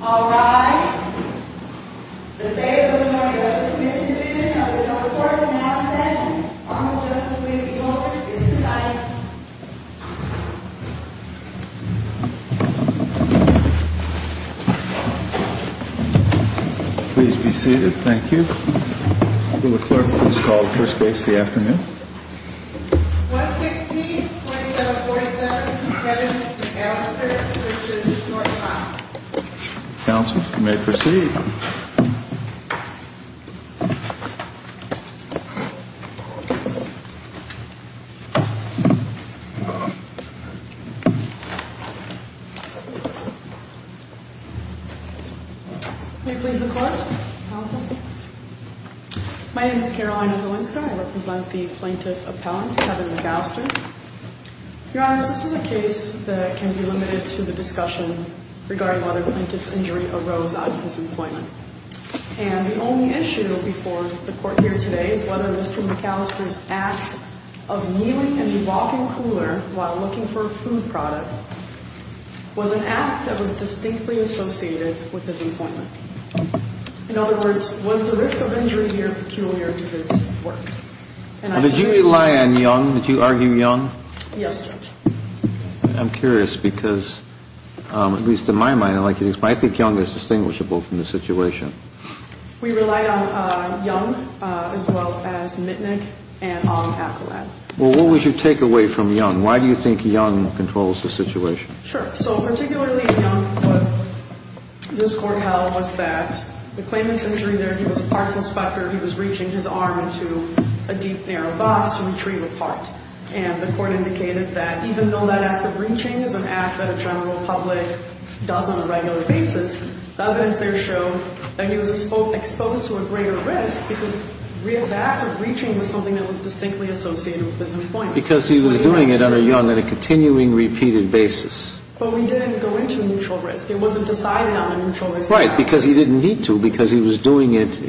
All rise. The State of Illinois Veterans Commission Division of the North Forest and Outback and Honorable Justice Lee B. Goldrich is residing. Please be seated. Thank you. The clerk will discall the first base in the afternoon. 116-2747, Kevin Allister v. Northcock. Counsel, you may proceed. May it please the clerk? Counsel? My name is Carolina Zielinska. I represent the plaintiff appellant, Kevin McAllister. Your Honor, this is a case that can be limited to the discussion regarding whether the plaintiff's injury arose out of his employment. And the only issue before the court here today is whether Mr. McAllister's act of kneeling in the walk-in cooler while looking for a food product was an act that was distinctly associated with his employment. In other words, was the risk of injury here peculiar to his work? Did you rely on Young? Did you argue Young? Yes, Judge. I'm curious because, at least in my mind, I think Young is distinguishable from the situation. We relied on Young as well as Mitnick and our appellant. Well, what would you take away from Young? Why do you think Young controls the situation? Sure. So, particularly Young, what this Court held was that the plaintiff's injury there, he was a parts inspector. He was reaching his arm into a deep, narrow box to retrieve a part. And the Court indicated that even though that act of reaching is an act that a general public does on a regular basis, the evidence there showed that he was exposed to a greater risk because the act of reaching was something that was distinctly associated with his employment. Because he was doing it on a continuing, repeated basis. But we didn't go into a neutral risk. It wasn't decided on a neutral risk. Right. Because he didn't need to. Because he was doing it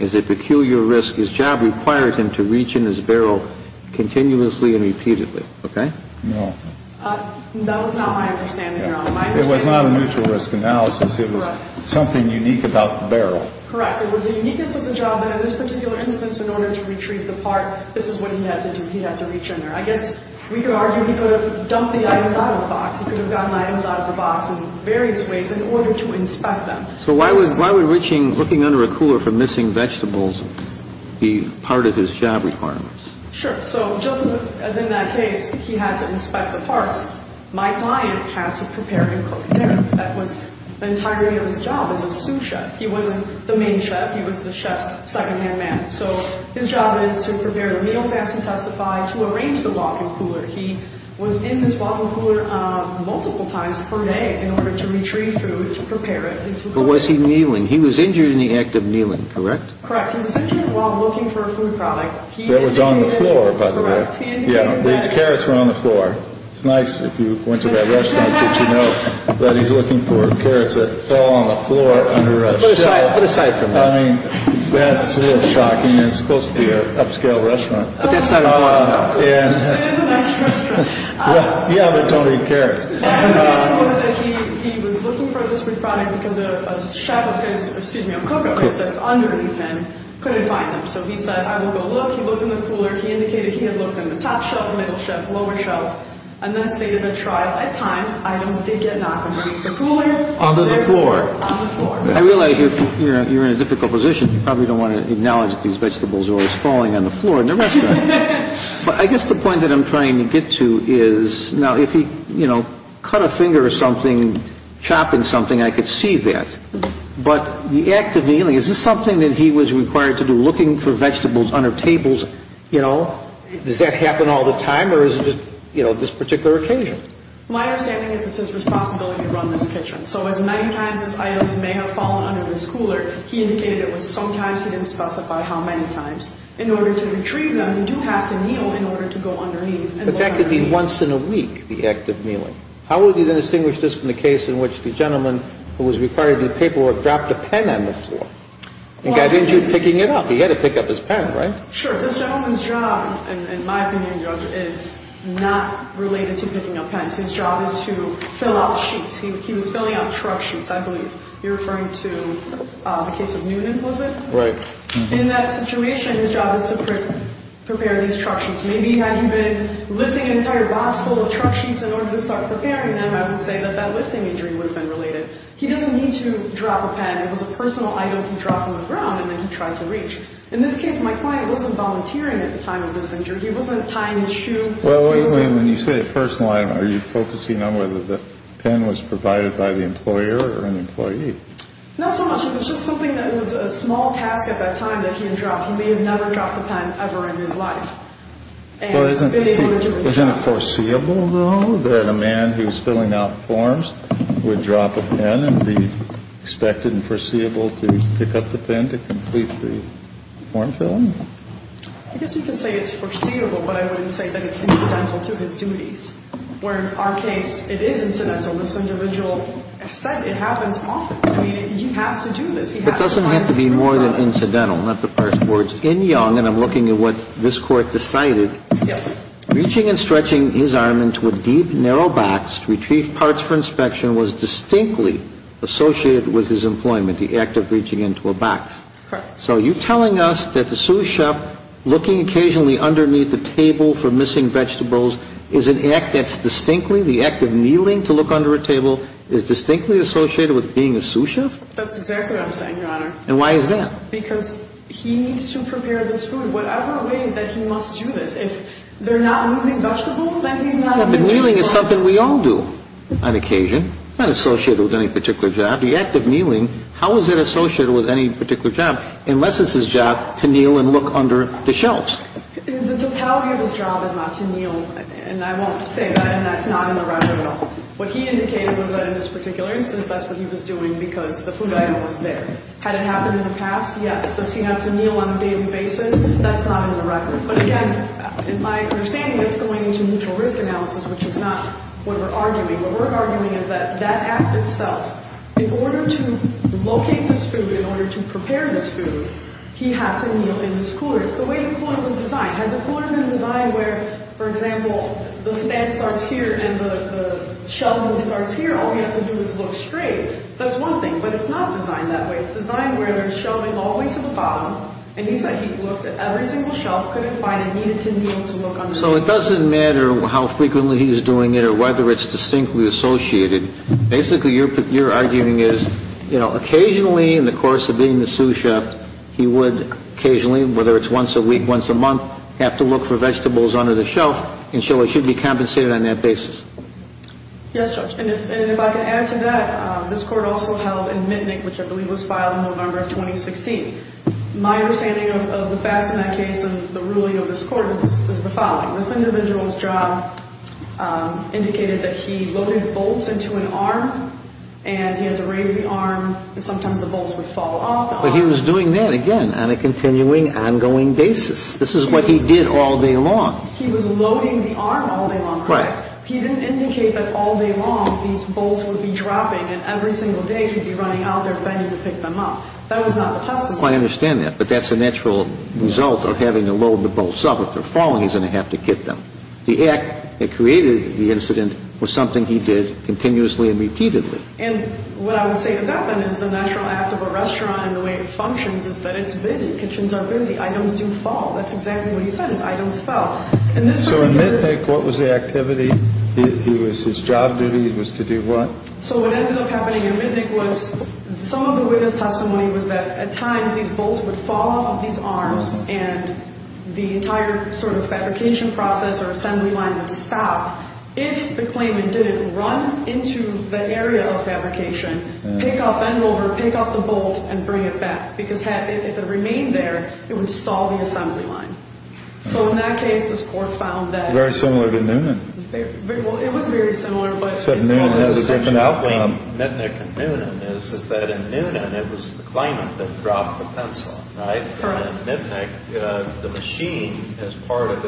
as a peculiar risk. His job required him to reach in his barrel continuously and repeatedly. Okay? No. That was not my understanding, Your Honor. It was not a neutral risk analysis. It was something unique about the barrel. Correct. It was the uniqueness of the job that, in this particular instance, in order to retrieve the part, this is what he had to do. He had to reach in there. I guess we could argue he could have dumped the items out of the box. He could have gotten the items out of the box in various ways in order to inspect them. So why would reaching, looking under a cooler for missing vegetables be part of his job requirements? Sure. So just as in that case, he had to inspect the parts. My client had to prepare and cook dinner. That was the entirety of his job as a sous chef. He wasn't the main chef. He was the chef's secondhand man. So his job is to prepare the meals, ask and testify, to arrange the walk-in cooler. He was in his walk-in cooler multiple times per day in order to retrieve food, to prepare it, and to cook it. But was he kneeling? He was injured in the act of kneeling, correct? Correct. He was injured while looking for a food product. That was on the floor, by the way. Yeah. These carrots were on the floor. It's nice if you went to that restaurant that you know that he's looking for carrots that fall on the floor under a shelf. Put aside. Put aside for a moment. I mean, that's a little shocking. It's supposed to be an upscale restaurant. But that's not a problem. It is a nice restaurant. Yeah, but don't eat carrots. The problem was that he was looking for this food product because a shelf of his, excuse me, of Cocoa Bits that's underneath him couldn't find them. So he said, I will go look. He looked in the cooler. He indicated he had looked in the top shelf, middle shelf, lower shelf. And thus, they did a trial. At times, items did get knocked underneath the cooler. Onto the floor. Onto the floor. I realize you're in a difficult position. You probably don't want to acknowledge that these vegetables are always falling on the floor in the restaurant. But I guess the point that I'm trying to get to is, now, if he, you know, cut a finger or something, chopping something, I could see that. But the act of kneeling, is this something that he was required to do, looking for vegetables under tables? You know, does that happen all the time or is it just, you know, this particular occasion? My understanding is it's his responsibility to run this kitchen. So as many times as items may have fallen under this cooler, he indicated it was sometimes. He didn't specify how many times. In order to retrieve them, you do have to kneel in order to go underneath. But that could be once in a week, the act of kneeling. How would you distinguish this from the case in which the gentleman who was required to do paperwork dropped a pen on the floor and got injured picking it up? He had to pick up his pen, right? Sure. This gentleman's job, in my opinion, Judge, is not related to picking up pens. His job is to fill out sheets. He was filling out truck sheets, I believe. You're referring to the case of Newton, was it? Right. In that situation, his job is to prepare these truck sheets. Maybe had he been lifting an entire box full of truck sheets in order to start preparing them, I would say that that lifting injury would have been related. He doesn't need to drop a pen. It was a personal item he dropped on the ground and then he tried to reach. In this case, my client wasn't volunteering at the time of this injury. He wasn't tying his shoe. When you say a personal item, are you focusing on whether the pen was provided by the employer or an employee? Not so much. It was just something that was a small task at that time that he had dropped. He may have never dropped a pen ever in his life. Isn't it foreseeable, though, that a man who's filling out forms would drop a pen and be expected and foreseeable to pick up the pen to complete the form filling? I guess you could say it's foreseeable, but I wouldn't say that it's incidental to his duties. Where in our case, it is incidental. This individual has said it happens often. I mean, he has to do this. He has to find this. It doesn't have to be more than incidental, not the first words. In Young, and I'm looking at what this Court decided, reaching and stretching his arm into a deep, narrow box to retrieve parts for inspection was distinctly associated with his employment, the act of reaching into a box. Correct. So are you telling us that the sous chef looking occasionally underneath the table for missing vegetables is an act that's distinctly, the act of kneeling to look under a table, is distinctly associated with being a sous chef? That's exactly what I'm saying, Your Honor. And why is that? Because he needs to prepare this food whatever way that he must do this. If they're not losing vegetables, then he's not a sous chef. Kneeling is something we all do on occasion. It's not associated with any particular job. How is it associated with any particular job, unless it's his job to kneel and look under the shelves? The totality of his job is not to kneel, and I won't say that, and that's not in the record at all. What he indicated was that in this particular instance, that's what he was doing because the food item was there. Had it happened in the past, yes. Does he have to kneel on a daily basis? That's not in the record. But again, in my understanding, that's going into mutual risk analysis, which is not what we're arguing. What we're arguing is that that act itself, in order to locate this food, in order to prepare this food, he had to kneel in this cooler. It's the way the cooler was designed. Had the cooler been designed where, for example, the fan starts here and the shelving starts here, all he has to do is look straight. That's one thing, but it's not designed that way. It's designed where there's shelving all the way to the bottom, and he said he looked at every single shelf, couldn't find it, needed to kneel to look underneath. So it doesn't matter how frequently he's doing it or whether it's distinctly associated. Basically, your arguing is, you know, occasionally in the course of being the sous chef, he would occasionally, whether it's once a week, once a month, have to look for vegetables under the shelf and so it should be compensated on that basis. Yes, Judge. And if I can add to that, this Court also held in Mitnick, which I believe was filed in November of 2016. My understanding of the facts in that case and the ruling of this Court is the following. This individual's job indicated that he loaded bolts into an arm and he had to raise the arm and sometimes the bolts would fall off. But he was doing that, again, on a continuing, ongoing basis. This is what he did all day long. He was loading the arm all day long, correct? Right. He didn't indicate that all day long these bolts would be dropping and every single day he'd be running out there bending to pick them up. That was not the testimony. I understand that. But that's a natural result of having to load the bolts up. If they're falling, he's going to have to get them. The act that created the incident was something he did continuously and repeatedly. And what I would say about that is the natural act of a restaurant and the way it functions is that it's busy. Kitchens are busy. Items do fall. That's exactly what he says. Items fall. So in Mitnick, what was the activity? His job duty was to do what? So what ended up happening in Mitnick was some of the witness testimony was that at times these bolts would fall off of these arms and the entire sort of fabrication process or assembly line would stop if the claimant didn't run into the area of fabrication, pick up and over, pick up the bolt, and bring it back. Because if it remained there, it would stall the assembly line. So in that case, this court found that. Very similar to Newman. Well, it was very similar. The difference between Mitnick and Newman is that in Newman, it was the claimant that dropped the pencil. In Mitnick, the machine as part of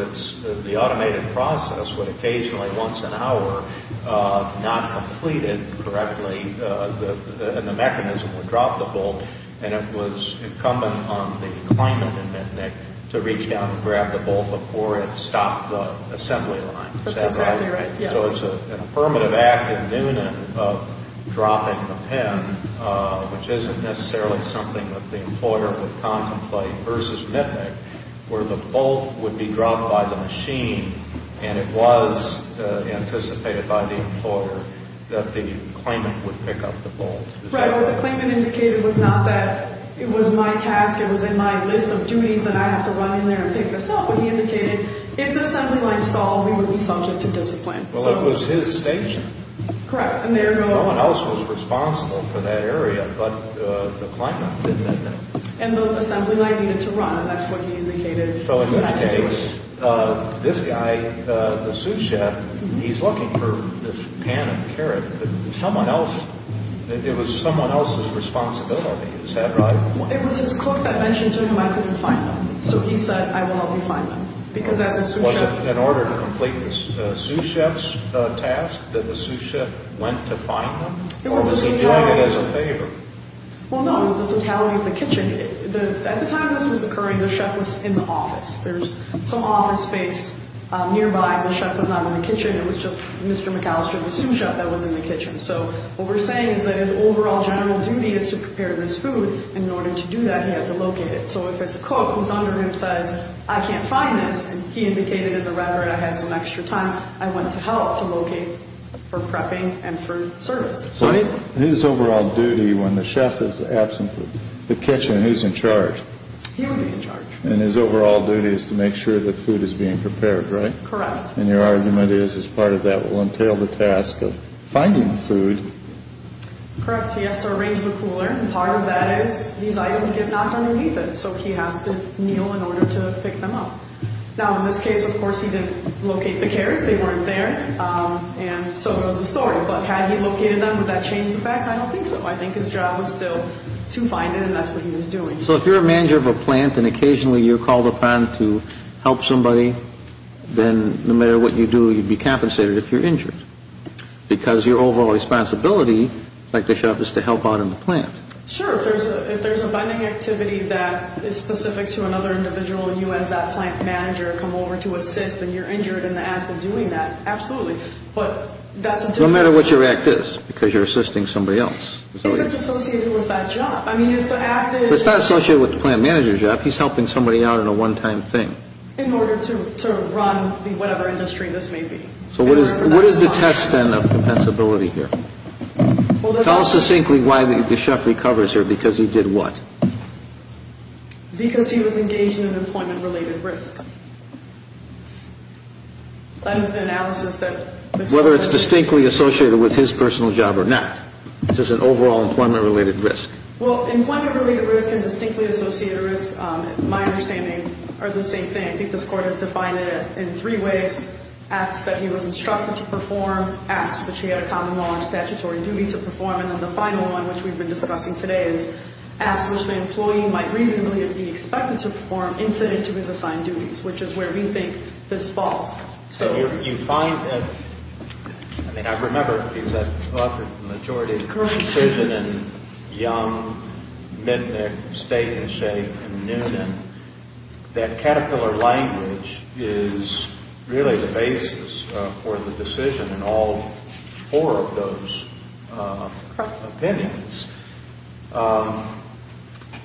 the automated process would occasionally, once an hour, not complete it correctly and the mechanism would drop the bolt. And it was incumbent on the claimant in Mitnick to reach down and grab the bolt before it stopped the assembly line. That's exactly right. So it's an affirmative act in Newman of dropping the pen, which isn't necessarily something that the employer would contemplate versus Mitnick, where the bolt would be dropped by the machine and it was anticipated by the employer that the claimant would pick up the bolt. Right. What the claimant indicated was not that it was my task, it was in my list of duties that I have to run in there and pick this up, but he indicated if the assembly line stalled, we would be subject to discipline. Well, it was his station. Correct. No one else was responsible for that area but the claimant, didn't they know? And the assembly line needed to run. That's what he indicated. So in that case, this guy, the sous chef, he's looking for this pan and carrot. It was someone else's responsibility. It was his cook that mentioned to him I couldn't find him. So he said, I will help you find him. Was it in order to complete the sous chef's task that the sous chef went to find him, or was he doing it as a favor? Well, no, it was the totality of the kitchen. At the time this was occurring, the chef was in the office. There's some office space nearby. The chef was not in the kitchen. It was just Mr. McAllister, the sous chef, that was in the kitchen. So what we're saying is that his overall general duty is to prepare this food, and in order to do that, he had to locate it. So if it's a cook whose underground says, I can't find this, and he indicated in the record I had some extra time, I went to help to locate for prepping and for service. So his overall duty when the chef is absent from the kitchen, who's in charge? He would be in charge. And his overall duty is to make sure that food is being prepared, right? Correct. And your argument is, as part of that will entail the task of finding the food. Correct. He has to arrange the cooler. And part of that is these items get knocked underneath it, so he has to kneel in order to pick them up. Now, in this case, of course, he didn't locate the carrots. They weren't there. And so it was a story. But had he located them, would that change the facts? I don't think so. I think his job was still to find it, and that's what he was doing. So if you're a manager of a plant and occasionally you're called upon to help somebody, then no matter what you do, you'd be compensated if you're injured, because your overall responsibility, like the chef, is to help out in the plant. Sure. If there's a vending activity that is specific to another individual and you, as that plant manager, come over to assist and you're injured in the act of doing that, absolutely. But that's a different thing. No matter what your act is, because you're assisting somebody else. I think it's associated with that job. I mean, if the act is – It's not associated with the plant manager's job. He's helping somebody out in a one-time thing. In order to run whatever industry this may be. So what is the test, then, of compensability here? Tell us succinctly why the chef recovers here, because he did what? Because he was engaged in an employment-related risk. That is the analysis that – Whether it's distinctly associated with his personal job or not. This is an overall employment-related risk. Well, employment-related risk and distinctly associated risk, in my understanding, are the same thing. I think this Court has defined it in three ways. Acts that he was instructed to perform. Acts which he had a common law or statutory duty to perform. And then the final one, which we've been discussing today, is acts which the employee might reasonably be expected to perform incident to his assigned duties, which is where we think this falls. So you find that – I mean, I remember, because I've authored a majority of decisions in Young, Midnick, Steak and Shake, and Noonan, that caterpillar language is really the basis for the decision in all four of those opinions.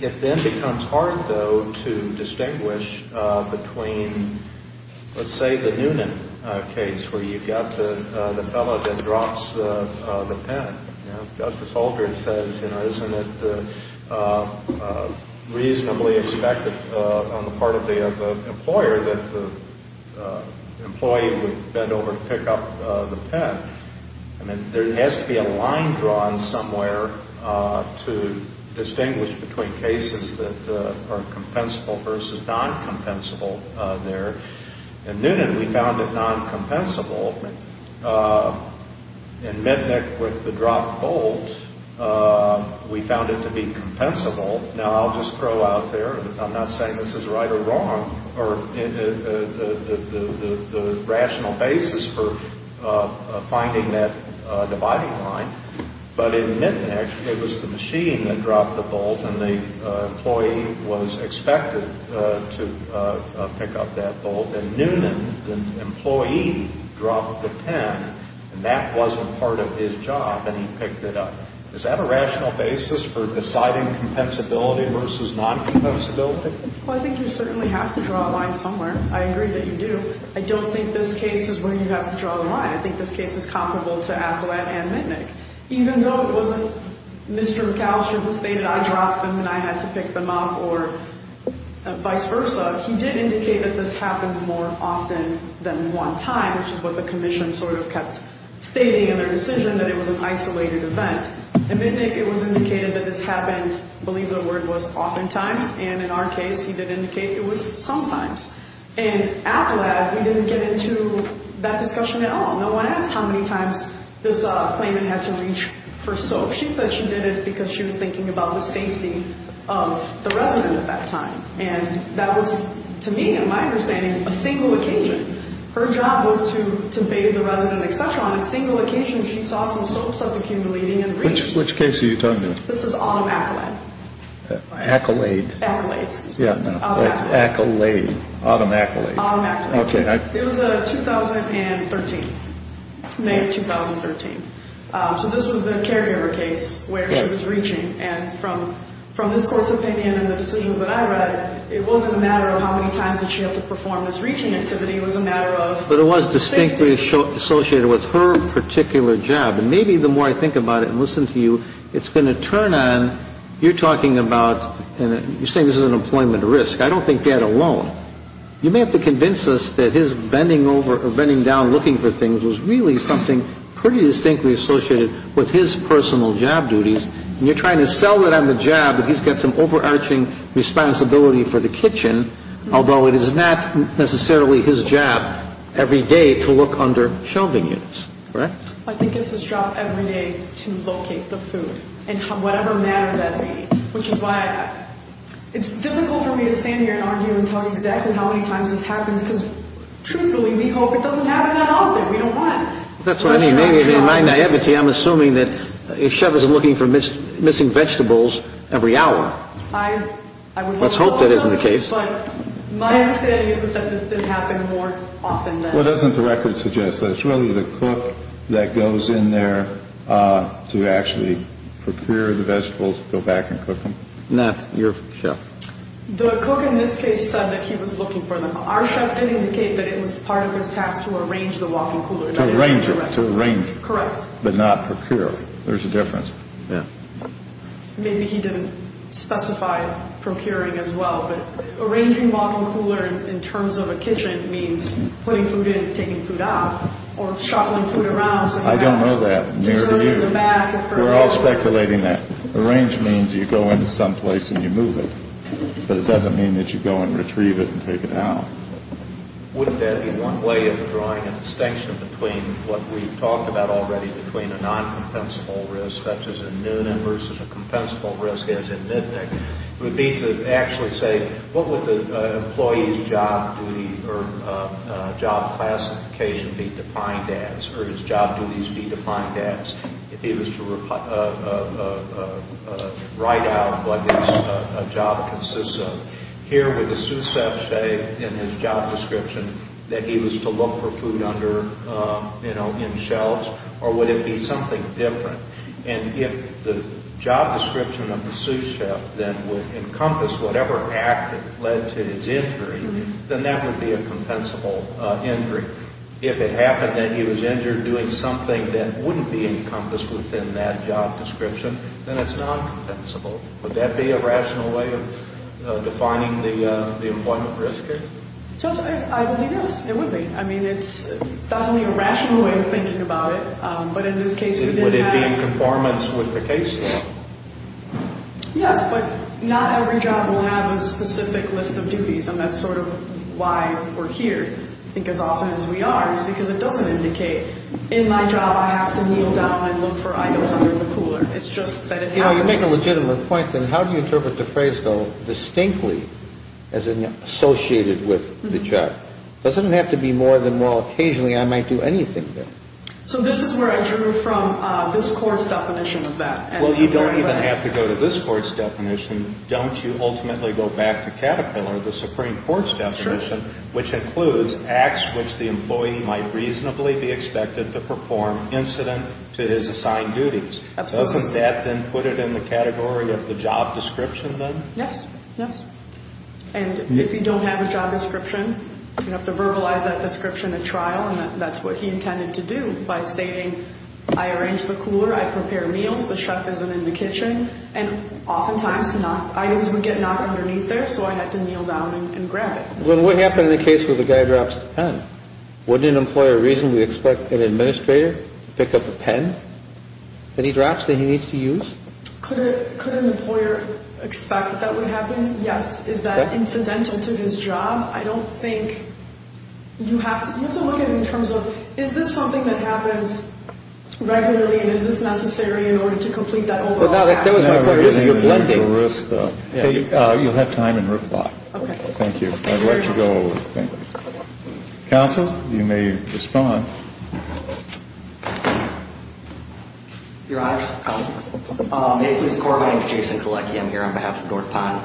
It then becomes hard, though, to distinguish between, let's say, the Noonan case, where you've got the fellow that drops the pen. As Justice Aldrich said, isn't it reasonably expected on the part of the employer that the employee would bend over to pick up the pen? I mean, there has to be a line drawn somewhere to distinguish between cases that are compensable versus non-compensable there. In Noonan, we found it non-compensable. In Midnick, with the dropped bolt, we found it to be compensable. Now, I'll just throw out there, I'm not saying this is right or wrong, or the rational basis for finding that dividing line, but in Midnick, it was the machine that dropped the bolt and the employee was expected to pick up that bolt. In Noonan, the employee dropped the pen, and that wasn't part of his job, and he picked it up. Is that a rational basis for deciding compensability versus non-compensability? Well, I think you certainly have to draw a line somewhere. I agree that you do. I don't think this case is where you have to draw the line. I think this case is comparable to Affleck and Midnick. Even though it wasn't Mr. McAllister who stated, I dropped them and I had to pick them up or vice versa, he did indicate that this happened more often than one time, which is what the Commission sort of kept stating in their decision, that it was an isolated event. In Midnick, it was indicated that this happened, I believe the word was oftentimes, and in our case, he did indicate it was sometimes. In Affleck, we didn't get into that discussion at all. No one asked how many times this claimant had to reach for soap. She said she did it because she was thinking about the safety of the resident at that time, and that was, to me, in my understanding, a single occasion. Her job was to bathe the resident, et cetera. On a single occasion, she saw some soaps as accumulating and reached. Which case are you talking about? This is Autumn Accolade. Accolade. Accolade, excuse me. Yeah, no, it's Accolade, Autumn Accolade. Autumn Accolade. It was a 2013, May of 2013. So this was the caregiver case where she was reaching. And from this Court's opinion and the decisions that I read, it wasn't a matter of how many times did she have to perform this reaching activity. It was a matter of safety. But it was distinctly associated with her particular job. And maybe the more I think about it and listen to you, it's going to turn on, you're talking about, and you're saying this is an employment risk. I don't think that alone. You may have to convince us that his bending over or bending down looking for things was really something pretty distinctly associated with his personal job duties. And you're trying to sell it on the job that he's got some overarching responsibility for the kitchen, although it is not necessarily his job every day to look under shelving units, correct? I think it's his job every day to locate the food in whatever manner that may be, which is why it's difficult for me to stand here and argue and tell you exactly how many times this happens because truthfully, we hope it doesn't happen that often. We don't want. That's what I mean. Maybe in my naivety, I'm assuming that a chef isn't looking for missing vegetables every hour. I would hope so. Let's hope that isn't the case. But my understanding is that this did happen more often than not. Well, doesn't the record suggest that it's really the cook that goes in there to actually procure the vegetables, go back and cook them? No, your chef. The cook in this case said that he was looking for them. Our chef did indicate that it was part of his task to arrange the walk-in cooler. To arrange it, to arrange it. Correct. But not procure. There's a difference. Yeah. Maybe he didn't specify procuring as well. But arranging walk-in cooler in terms of a kitchen means putting food in and taking food out or shuffling food around. I don't know that. We're all speculating that. Arrange means you go into some place and you move it. But it doesn't mean that you go and retrieve it and take it out. Wouldn't that be one way of drawing a distinction between what we've talked about already, between a non-compensable risk such as in Noonan versus a compensable risk as in Midnick? It would be to actually say what would the employee's job classification be defined as or his job duties be defined as? If he was to write out what his job consists of. Here would the sous chef say in his job description that he was to look for food under, you know, in shelves or would it be something different? And if the job description of the sous chef then would encompass whatever act that led to his injury, then that would be a compensable injury. If it happened that he was injured doing something that wouldn't be encompassed within that job description, then it's non-compensable. Would that be a rational way of defining the employment risk here? I believe it is. It would be. I mean, it's definitely a rational way of thinking about it, but in this case, Would it be in conformance with the case law? Yes, but not every job will have a specific list of duties and that's sort of why we're here. I think as often as we are, it's because it doesn't indicate in my job I have to kneel down and look for items under the cooler. It's just that it happens. You know, you make a legitimate point. Then how do you interpret the phrase, though, distinctly as associated with the job? It doesn't have to be more than, well, occasionally I might do anything there. So this is where I drew from this court's definition of that. Well, you don't even have to go to this court's definition. Don't you ultimately go back to Caterpillar, the Supreme Court's definition, which includes acts which the employee might reasonably be expected to perform incident to his assigned duties. Absolutely. Doesn't that then put it in the category of the job description, then? Yes, yes. And if you don't have a job description, you have to verbalize that description at trial, and that's what he intended to do by stating, I arrange the cooler, I prepare meals, the chef isn't in the kitchen, and oftentimes items would get knocked underneath there, so I had to kneel down and grab it. Well, what happened in the case where the guy drops the pen? Wouldn't an employer reasonably expect an administrator to pick up a pen that he drops that he needs to use? Could an employer expect that would happen? Yes. Is that incidental to his job? I don't think you have to look at it in terms of is this something that happens regularly and is this necessary in order to complete that overall task? You're blending. You'll have time in reply. Thank you. I'd like to go over. Counsel, you may respond. Your Honor, may it please the Court? My name is Jason Kolecki. I'm here on behalf of North Pond.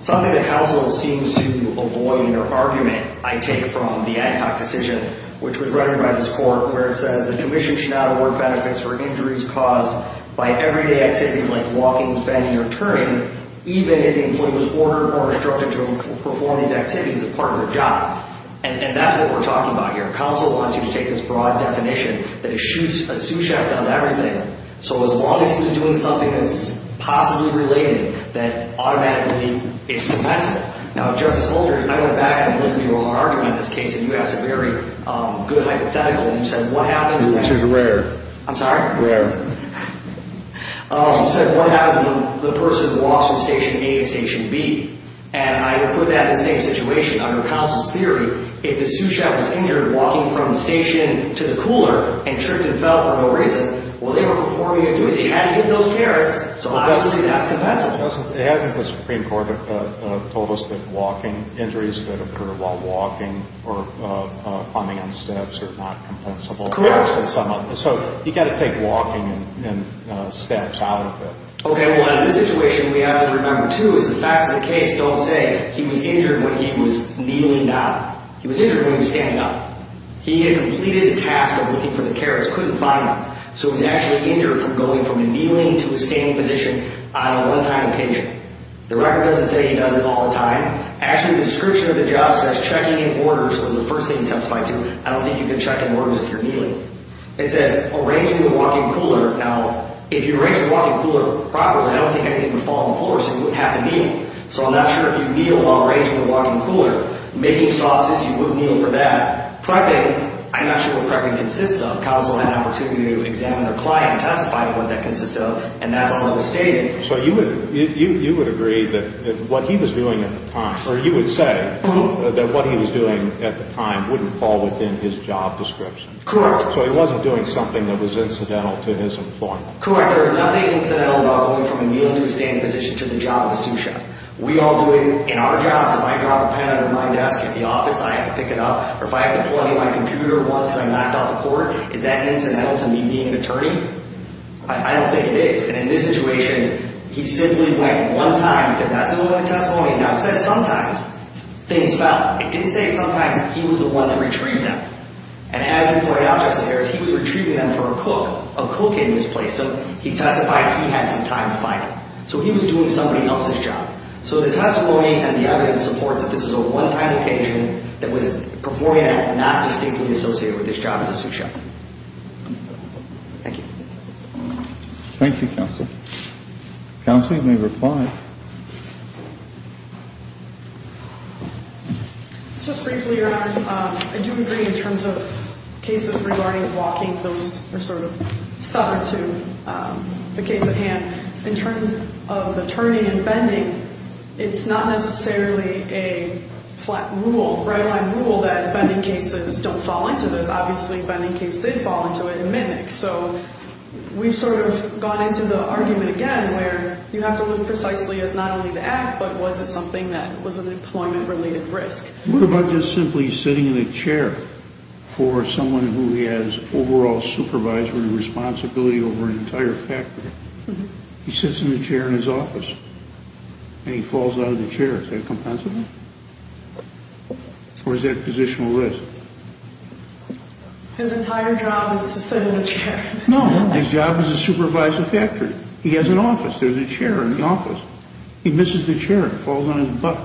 Something that counsel seems to avoid in her argument I take from the Ad Hoc decision, which was run by this Court where it says the commission should not award benefits for injuries caused by everyday activities like walking, bending, or turning, even if the employee was ordered or instructed to perform these activities as part of their job. And that's what we're talking about here. Counsel wants you to take this broad definition that a sous chef does everything. So as long as he's doing something that's possibly related, then automatically it's permissible. Now, Justice Holdren, I went back and listened to your whole argument in this case, and you asked a very good hypothetical, and you said what happens when— Injuries are rare. I'm sorry? Rare. You said what happens when the person walks from Station A to Station B. And I would put that in the same situation. Under counsel's theory, if the sous chef was injured walking from the station to the cooler and tripped and fell for no reason, well, they were performing a duty. They had to get those carrots, so obviously that's compensable. It hasn't. The Supreme Court told us that injuries that occur while walking or climbing on steps are not compensable. Correct. So you've got to take walking and steps out of it. Okay. Well, this situation we have to remember, too, is the facts of the case don't say he was injured when he was kneeling down. He was injured when he was standing up. He had completed a task of looking for the carrots, couldn't find them, so he was actually injured from going from kneeling to a standing position on a one-time occasion. The record doesn't say he does it all the time. Actually, the description of the job says checking in orders was the first thing he testified to. I don't think you can check in orders if you're kneeling. It says arranging the walking cooler. Now, if you arrange the walking cooler properly, I don't think anything would fall on the floor, so you wouldn't have to kneel. So I'm not sure if you kneel while arranging the walking cooler. Making sauces, you wouldn't kneel for that. Prepping, I'm not sure what prepping consists of. Counsel had an opportunity to examine their client and testify to what that consists of, and that's all that was stated. So you would agree that what he was doing at the time, or you would say that what he was doing at the time wouldn't fall within his job description. Correct. So he wasn't doing something that was incidental to his employment. Correct. There's nothing incidental about going from a kneeling to a standing position to the job of a sous chef. We all do it in our jobs. If I drop a pen under my desk at the office, I have to pick it up, or if I have to plug in my computer once because I knocked off the cord, is that incidental to me being an attorney? I don't think it is. And in this situation, he simply went one time because that's the testimony. Now, it says sometimes things fell. It didn't say sometimes. He was the one that retrieved them. And as you point out, Justice Harris, he was retrieving them for a cook. A cook had misplaced them. He testified he had some time to find them. So he was doing somebody else's job. So the testimony and the evidence supports that this is a one-time occasion that was, beforehand, not distinctly associated with his job as a sous chef. Thank you. Thank you, Counsel. Counsel, you may reply. Just briefly, Your Honors, I do agree in terms of cases regarding walking, those are sort of subject to the case at hand. In terms of the turning and bending, it's not necessarily a flat rule, right-of-hand rule that bending cases don't fall into this. Obviously, bending case did fall into it in Mitnick. So we've sort of gone into the argument again where you have to look precisely as not only the act, but was it something that was an employment-related risk? What about just simply sitting in a chair for someone who has overall supervisory responsibility over an entire factory? He sits in a chair in his office, and he falls out of the chair. Is that compensable? Or is that positional risk? His entire job is to sit in a chair. No, his job is to supervise a factory. He has an office. There's a chair in the office. He misses the chair and falls on his butt.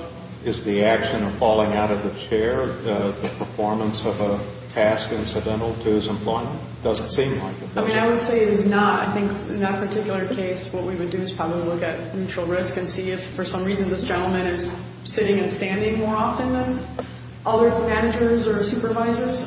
Is the action of falling out of the chair the performance of a task incidental to his employment? It doesn't seem like it. I mean, I would say it is not. I think in that particular case, what we would do is probably look at mutual risk and see if for some reason this gentleman is sitting and standing more often than other managers or supervisors.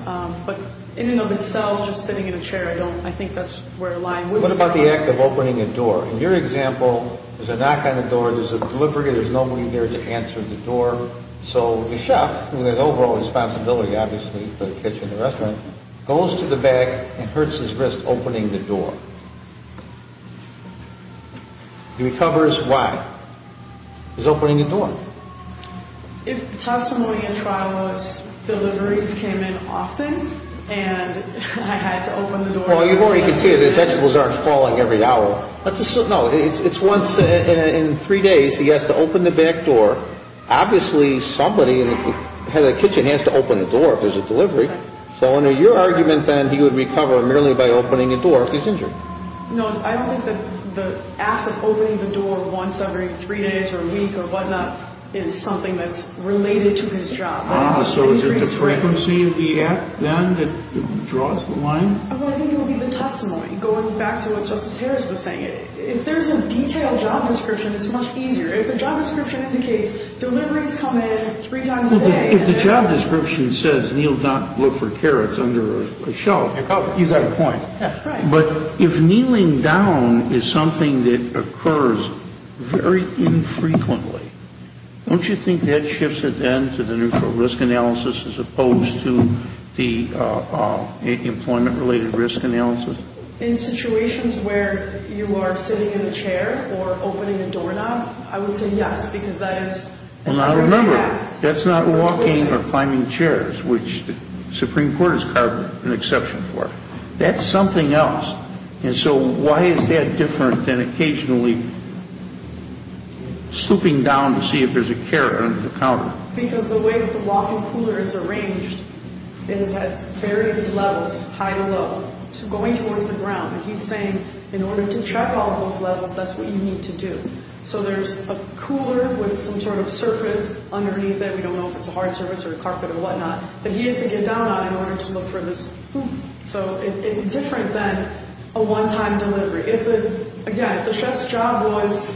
But in and of itself, just sitting in a chair, I think that's where a line would be drawn. What about the act of opening a door? In your example, there's a knock on the door. There's a delivery. There's no one there to answer the door. So the chef, who has overall responsibility obviously for the kitchen and restaurant, goes to the back and hurts his wrist opening the door. He recovers. Why? He's opening the door. If testimony in trial was deliveries came in often and I had to open the door. Well, you've already conceded that vegetables aren't falling every hour. No, it's once in three days he has to open the back door. Obviously, somebody in the kitchen has to open the door if there's a delivery. So under your argument, then, he would recover merely by opening a door if he's injured. No, I don't think that the act of opening the door once every three days or a week or whatnot is something that's related to his job. So is it the frequency of the act, then, that draws the line? I think it would be the testimony, going back to what Justice Harris was saying. If there's a detailed job description, it's much easier. If the job description indicates deliveries come in three times a day. If the job description says he'll not look for carrots under a shelf, you've got a point. Right. But if kneeling down is something that occurs very infrequently, don't you think that shifts it then to the neutral risk analysis as opposed to the employment-related risk analysis? In situations where you are sitting in a chair or opening a doorknob, I would say yes, because that is another act. Well, now remember, that's not walking or climbing chairs, which the Supreme Court has carved an exception for. That's something else. And so why is that different than occasionally slooping down to see if there's a carrot under the counter? Because the way that the walk-in cooler is arranged is at various levels, high to low, going towards the ground. And he's saying in order to check all those levels, that's what you need to do. So there's a cooler with some sort of surface underneath it. We don't know if it's a hard surface or a carpet or whatnot. But he has to get down on it in order to look for this. So it's different than a one-time delivery. Again, if the chef's job was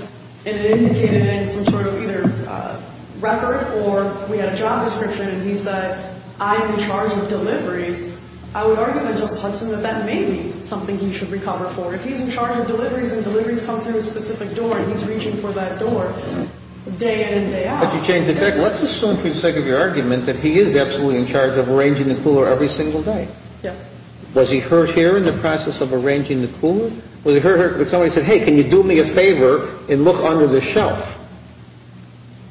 indicated in some sort of either record or we had a job description and he said, I am in charge of deliveries, I would argue that just tells him that that may be something he should recover for. If he's in charge of deliveries and deliveries come through a specific door, he's reaching for that door day in and day out. Let's assume for the sake of your argument that he is absolutely in charge of arranging the cooler every single day. Yes. Was he hurt here in the process of arranging the cooler? Was he hurt when somebody said, hey, can you do me a favor and look under the shelf?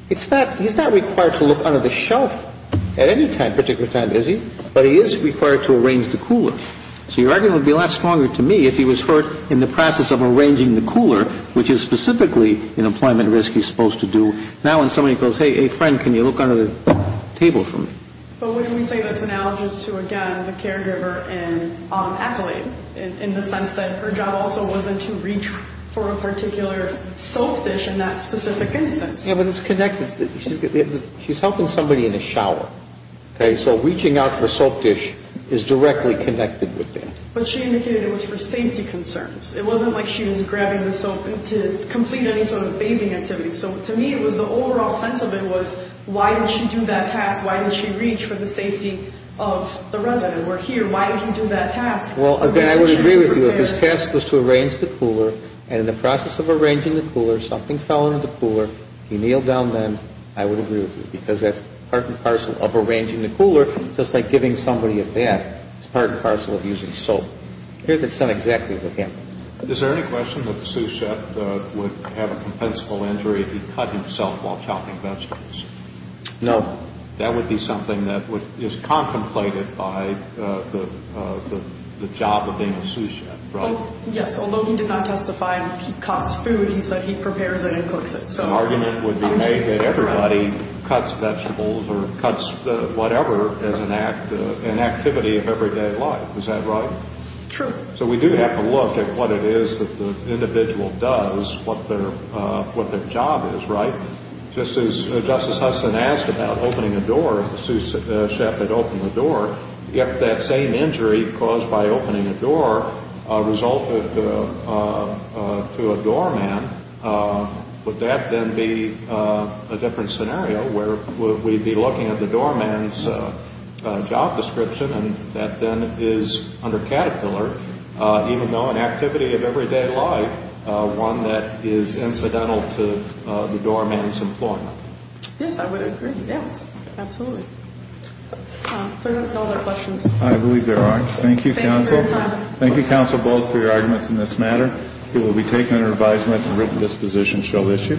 He's not required to look under the shelf at any particular time, is he? But he is required to arrange the cooler. So your argument would be a lot stronger to me if he was hurt in the process of arranging the cooler, which is specifically an employment risk he's supposed to do. Now when somebody goes, hey, friend, can you look under the table for me? But wouldn't we say that's analogous to, again, the caregiver and accolade in the sense that her job also wasn't to reach for a particular soap dish in that specific instance? Yeah, but it's connected. She's helping somebody in the shower, okay? So reaching out for a soap dish is directly connected with that. But she indicated it was for safety concerns. It wasn't like she was grabbing the soap to complete any sort of bathing activity. So to me it was the overall sense of it was why did she do that task? Why did she reach for the safety of the resident? We're here. Why did he do that task? Well, again, I would agree with you. If his task was to arrange the cooler and in the process of arranging the cooler something fell into the cooler, he kneeled down then, I would agree with you because that's part and parcel of arranging the cooler, just like giving somebody a bath. It's part and parcel of using soap. Here's what's done exactly with him. Is there any question that the sous chef would have a compensable injury if he cut himself while chopping vegetables? No. That would be something that is contemplated by the job of being a sous chef, right? Yes. Although he did not testify he cuts food, he said he prepares it and cooks it. So an argument would be made that everybody cuts vegetables or cuts whatever as an activity of everyday life. Is that right? True. So we do have to look at what it is that the individual does, what their job is, right? Just as Justice Hudson asked about opening a door, if the sous chef had opened the door, if that same injury caused by opening a door resulted to a doorman, would that then be a different scenario where we'd be looking at the doorman's job description and that then is, under Caterpillar, even though an activity of everyday life, one that is incidental to the doorman's employment? Yes, I would agree. Yes, absolutely. Are there any other questions? I believe there are. Thank you, counsel. Thank you, counsel, both for your arguments in this matter. It will be taken under advisement and written disposition shall issue.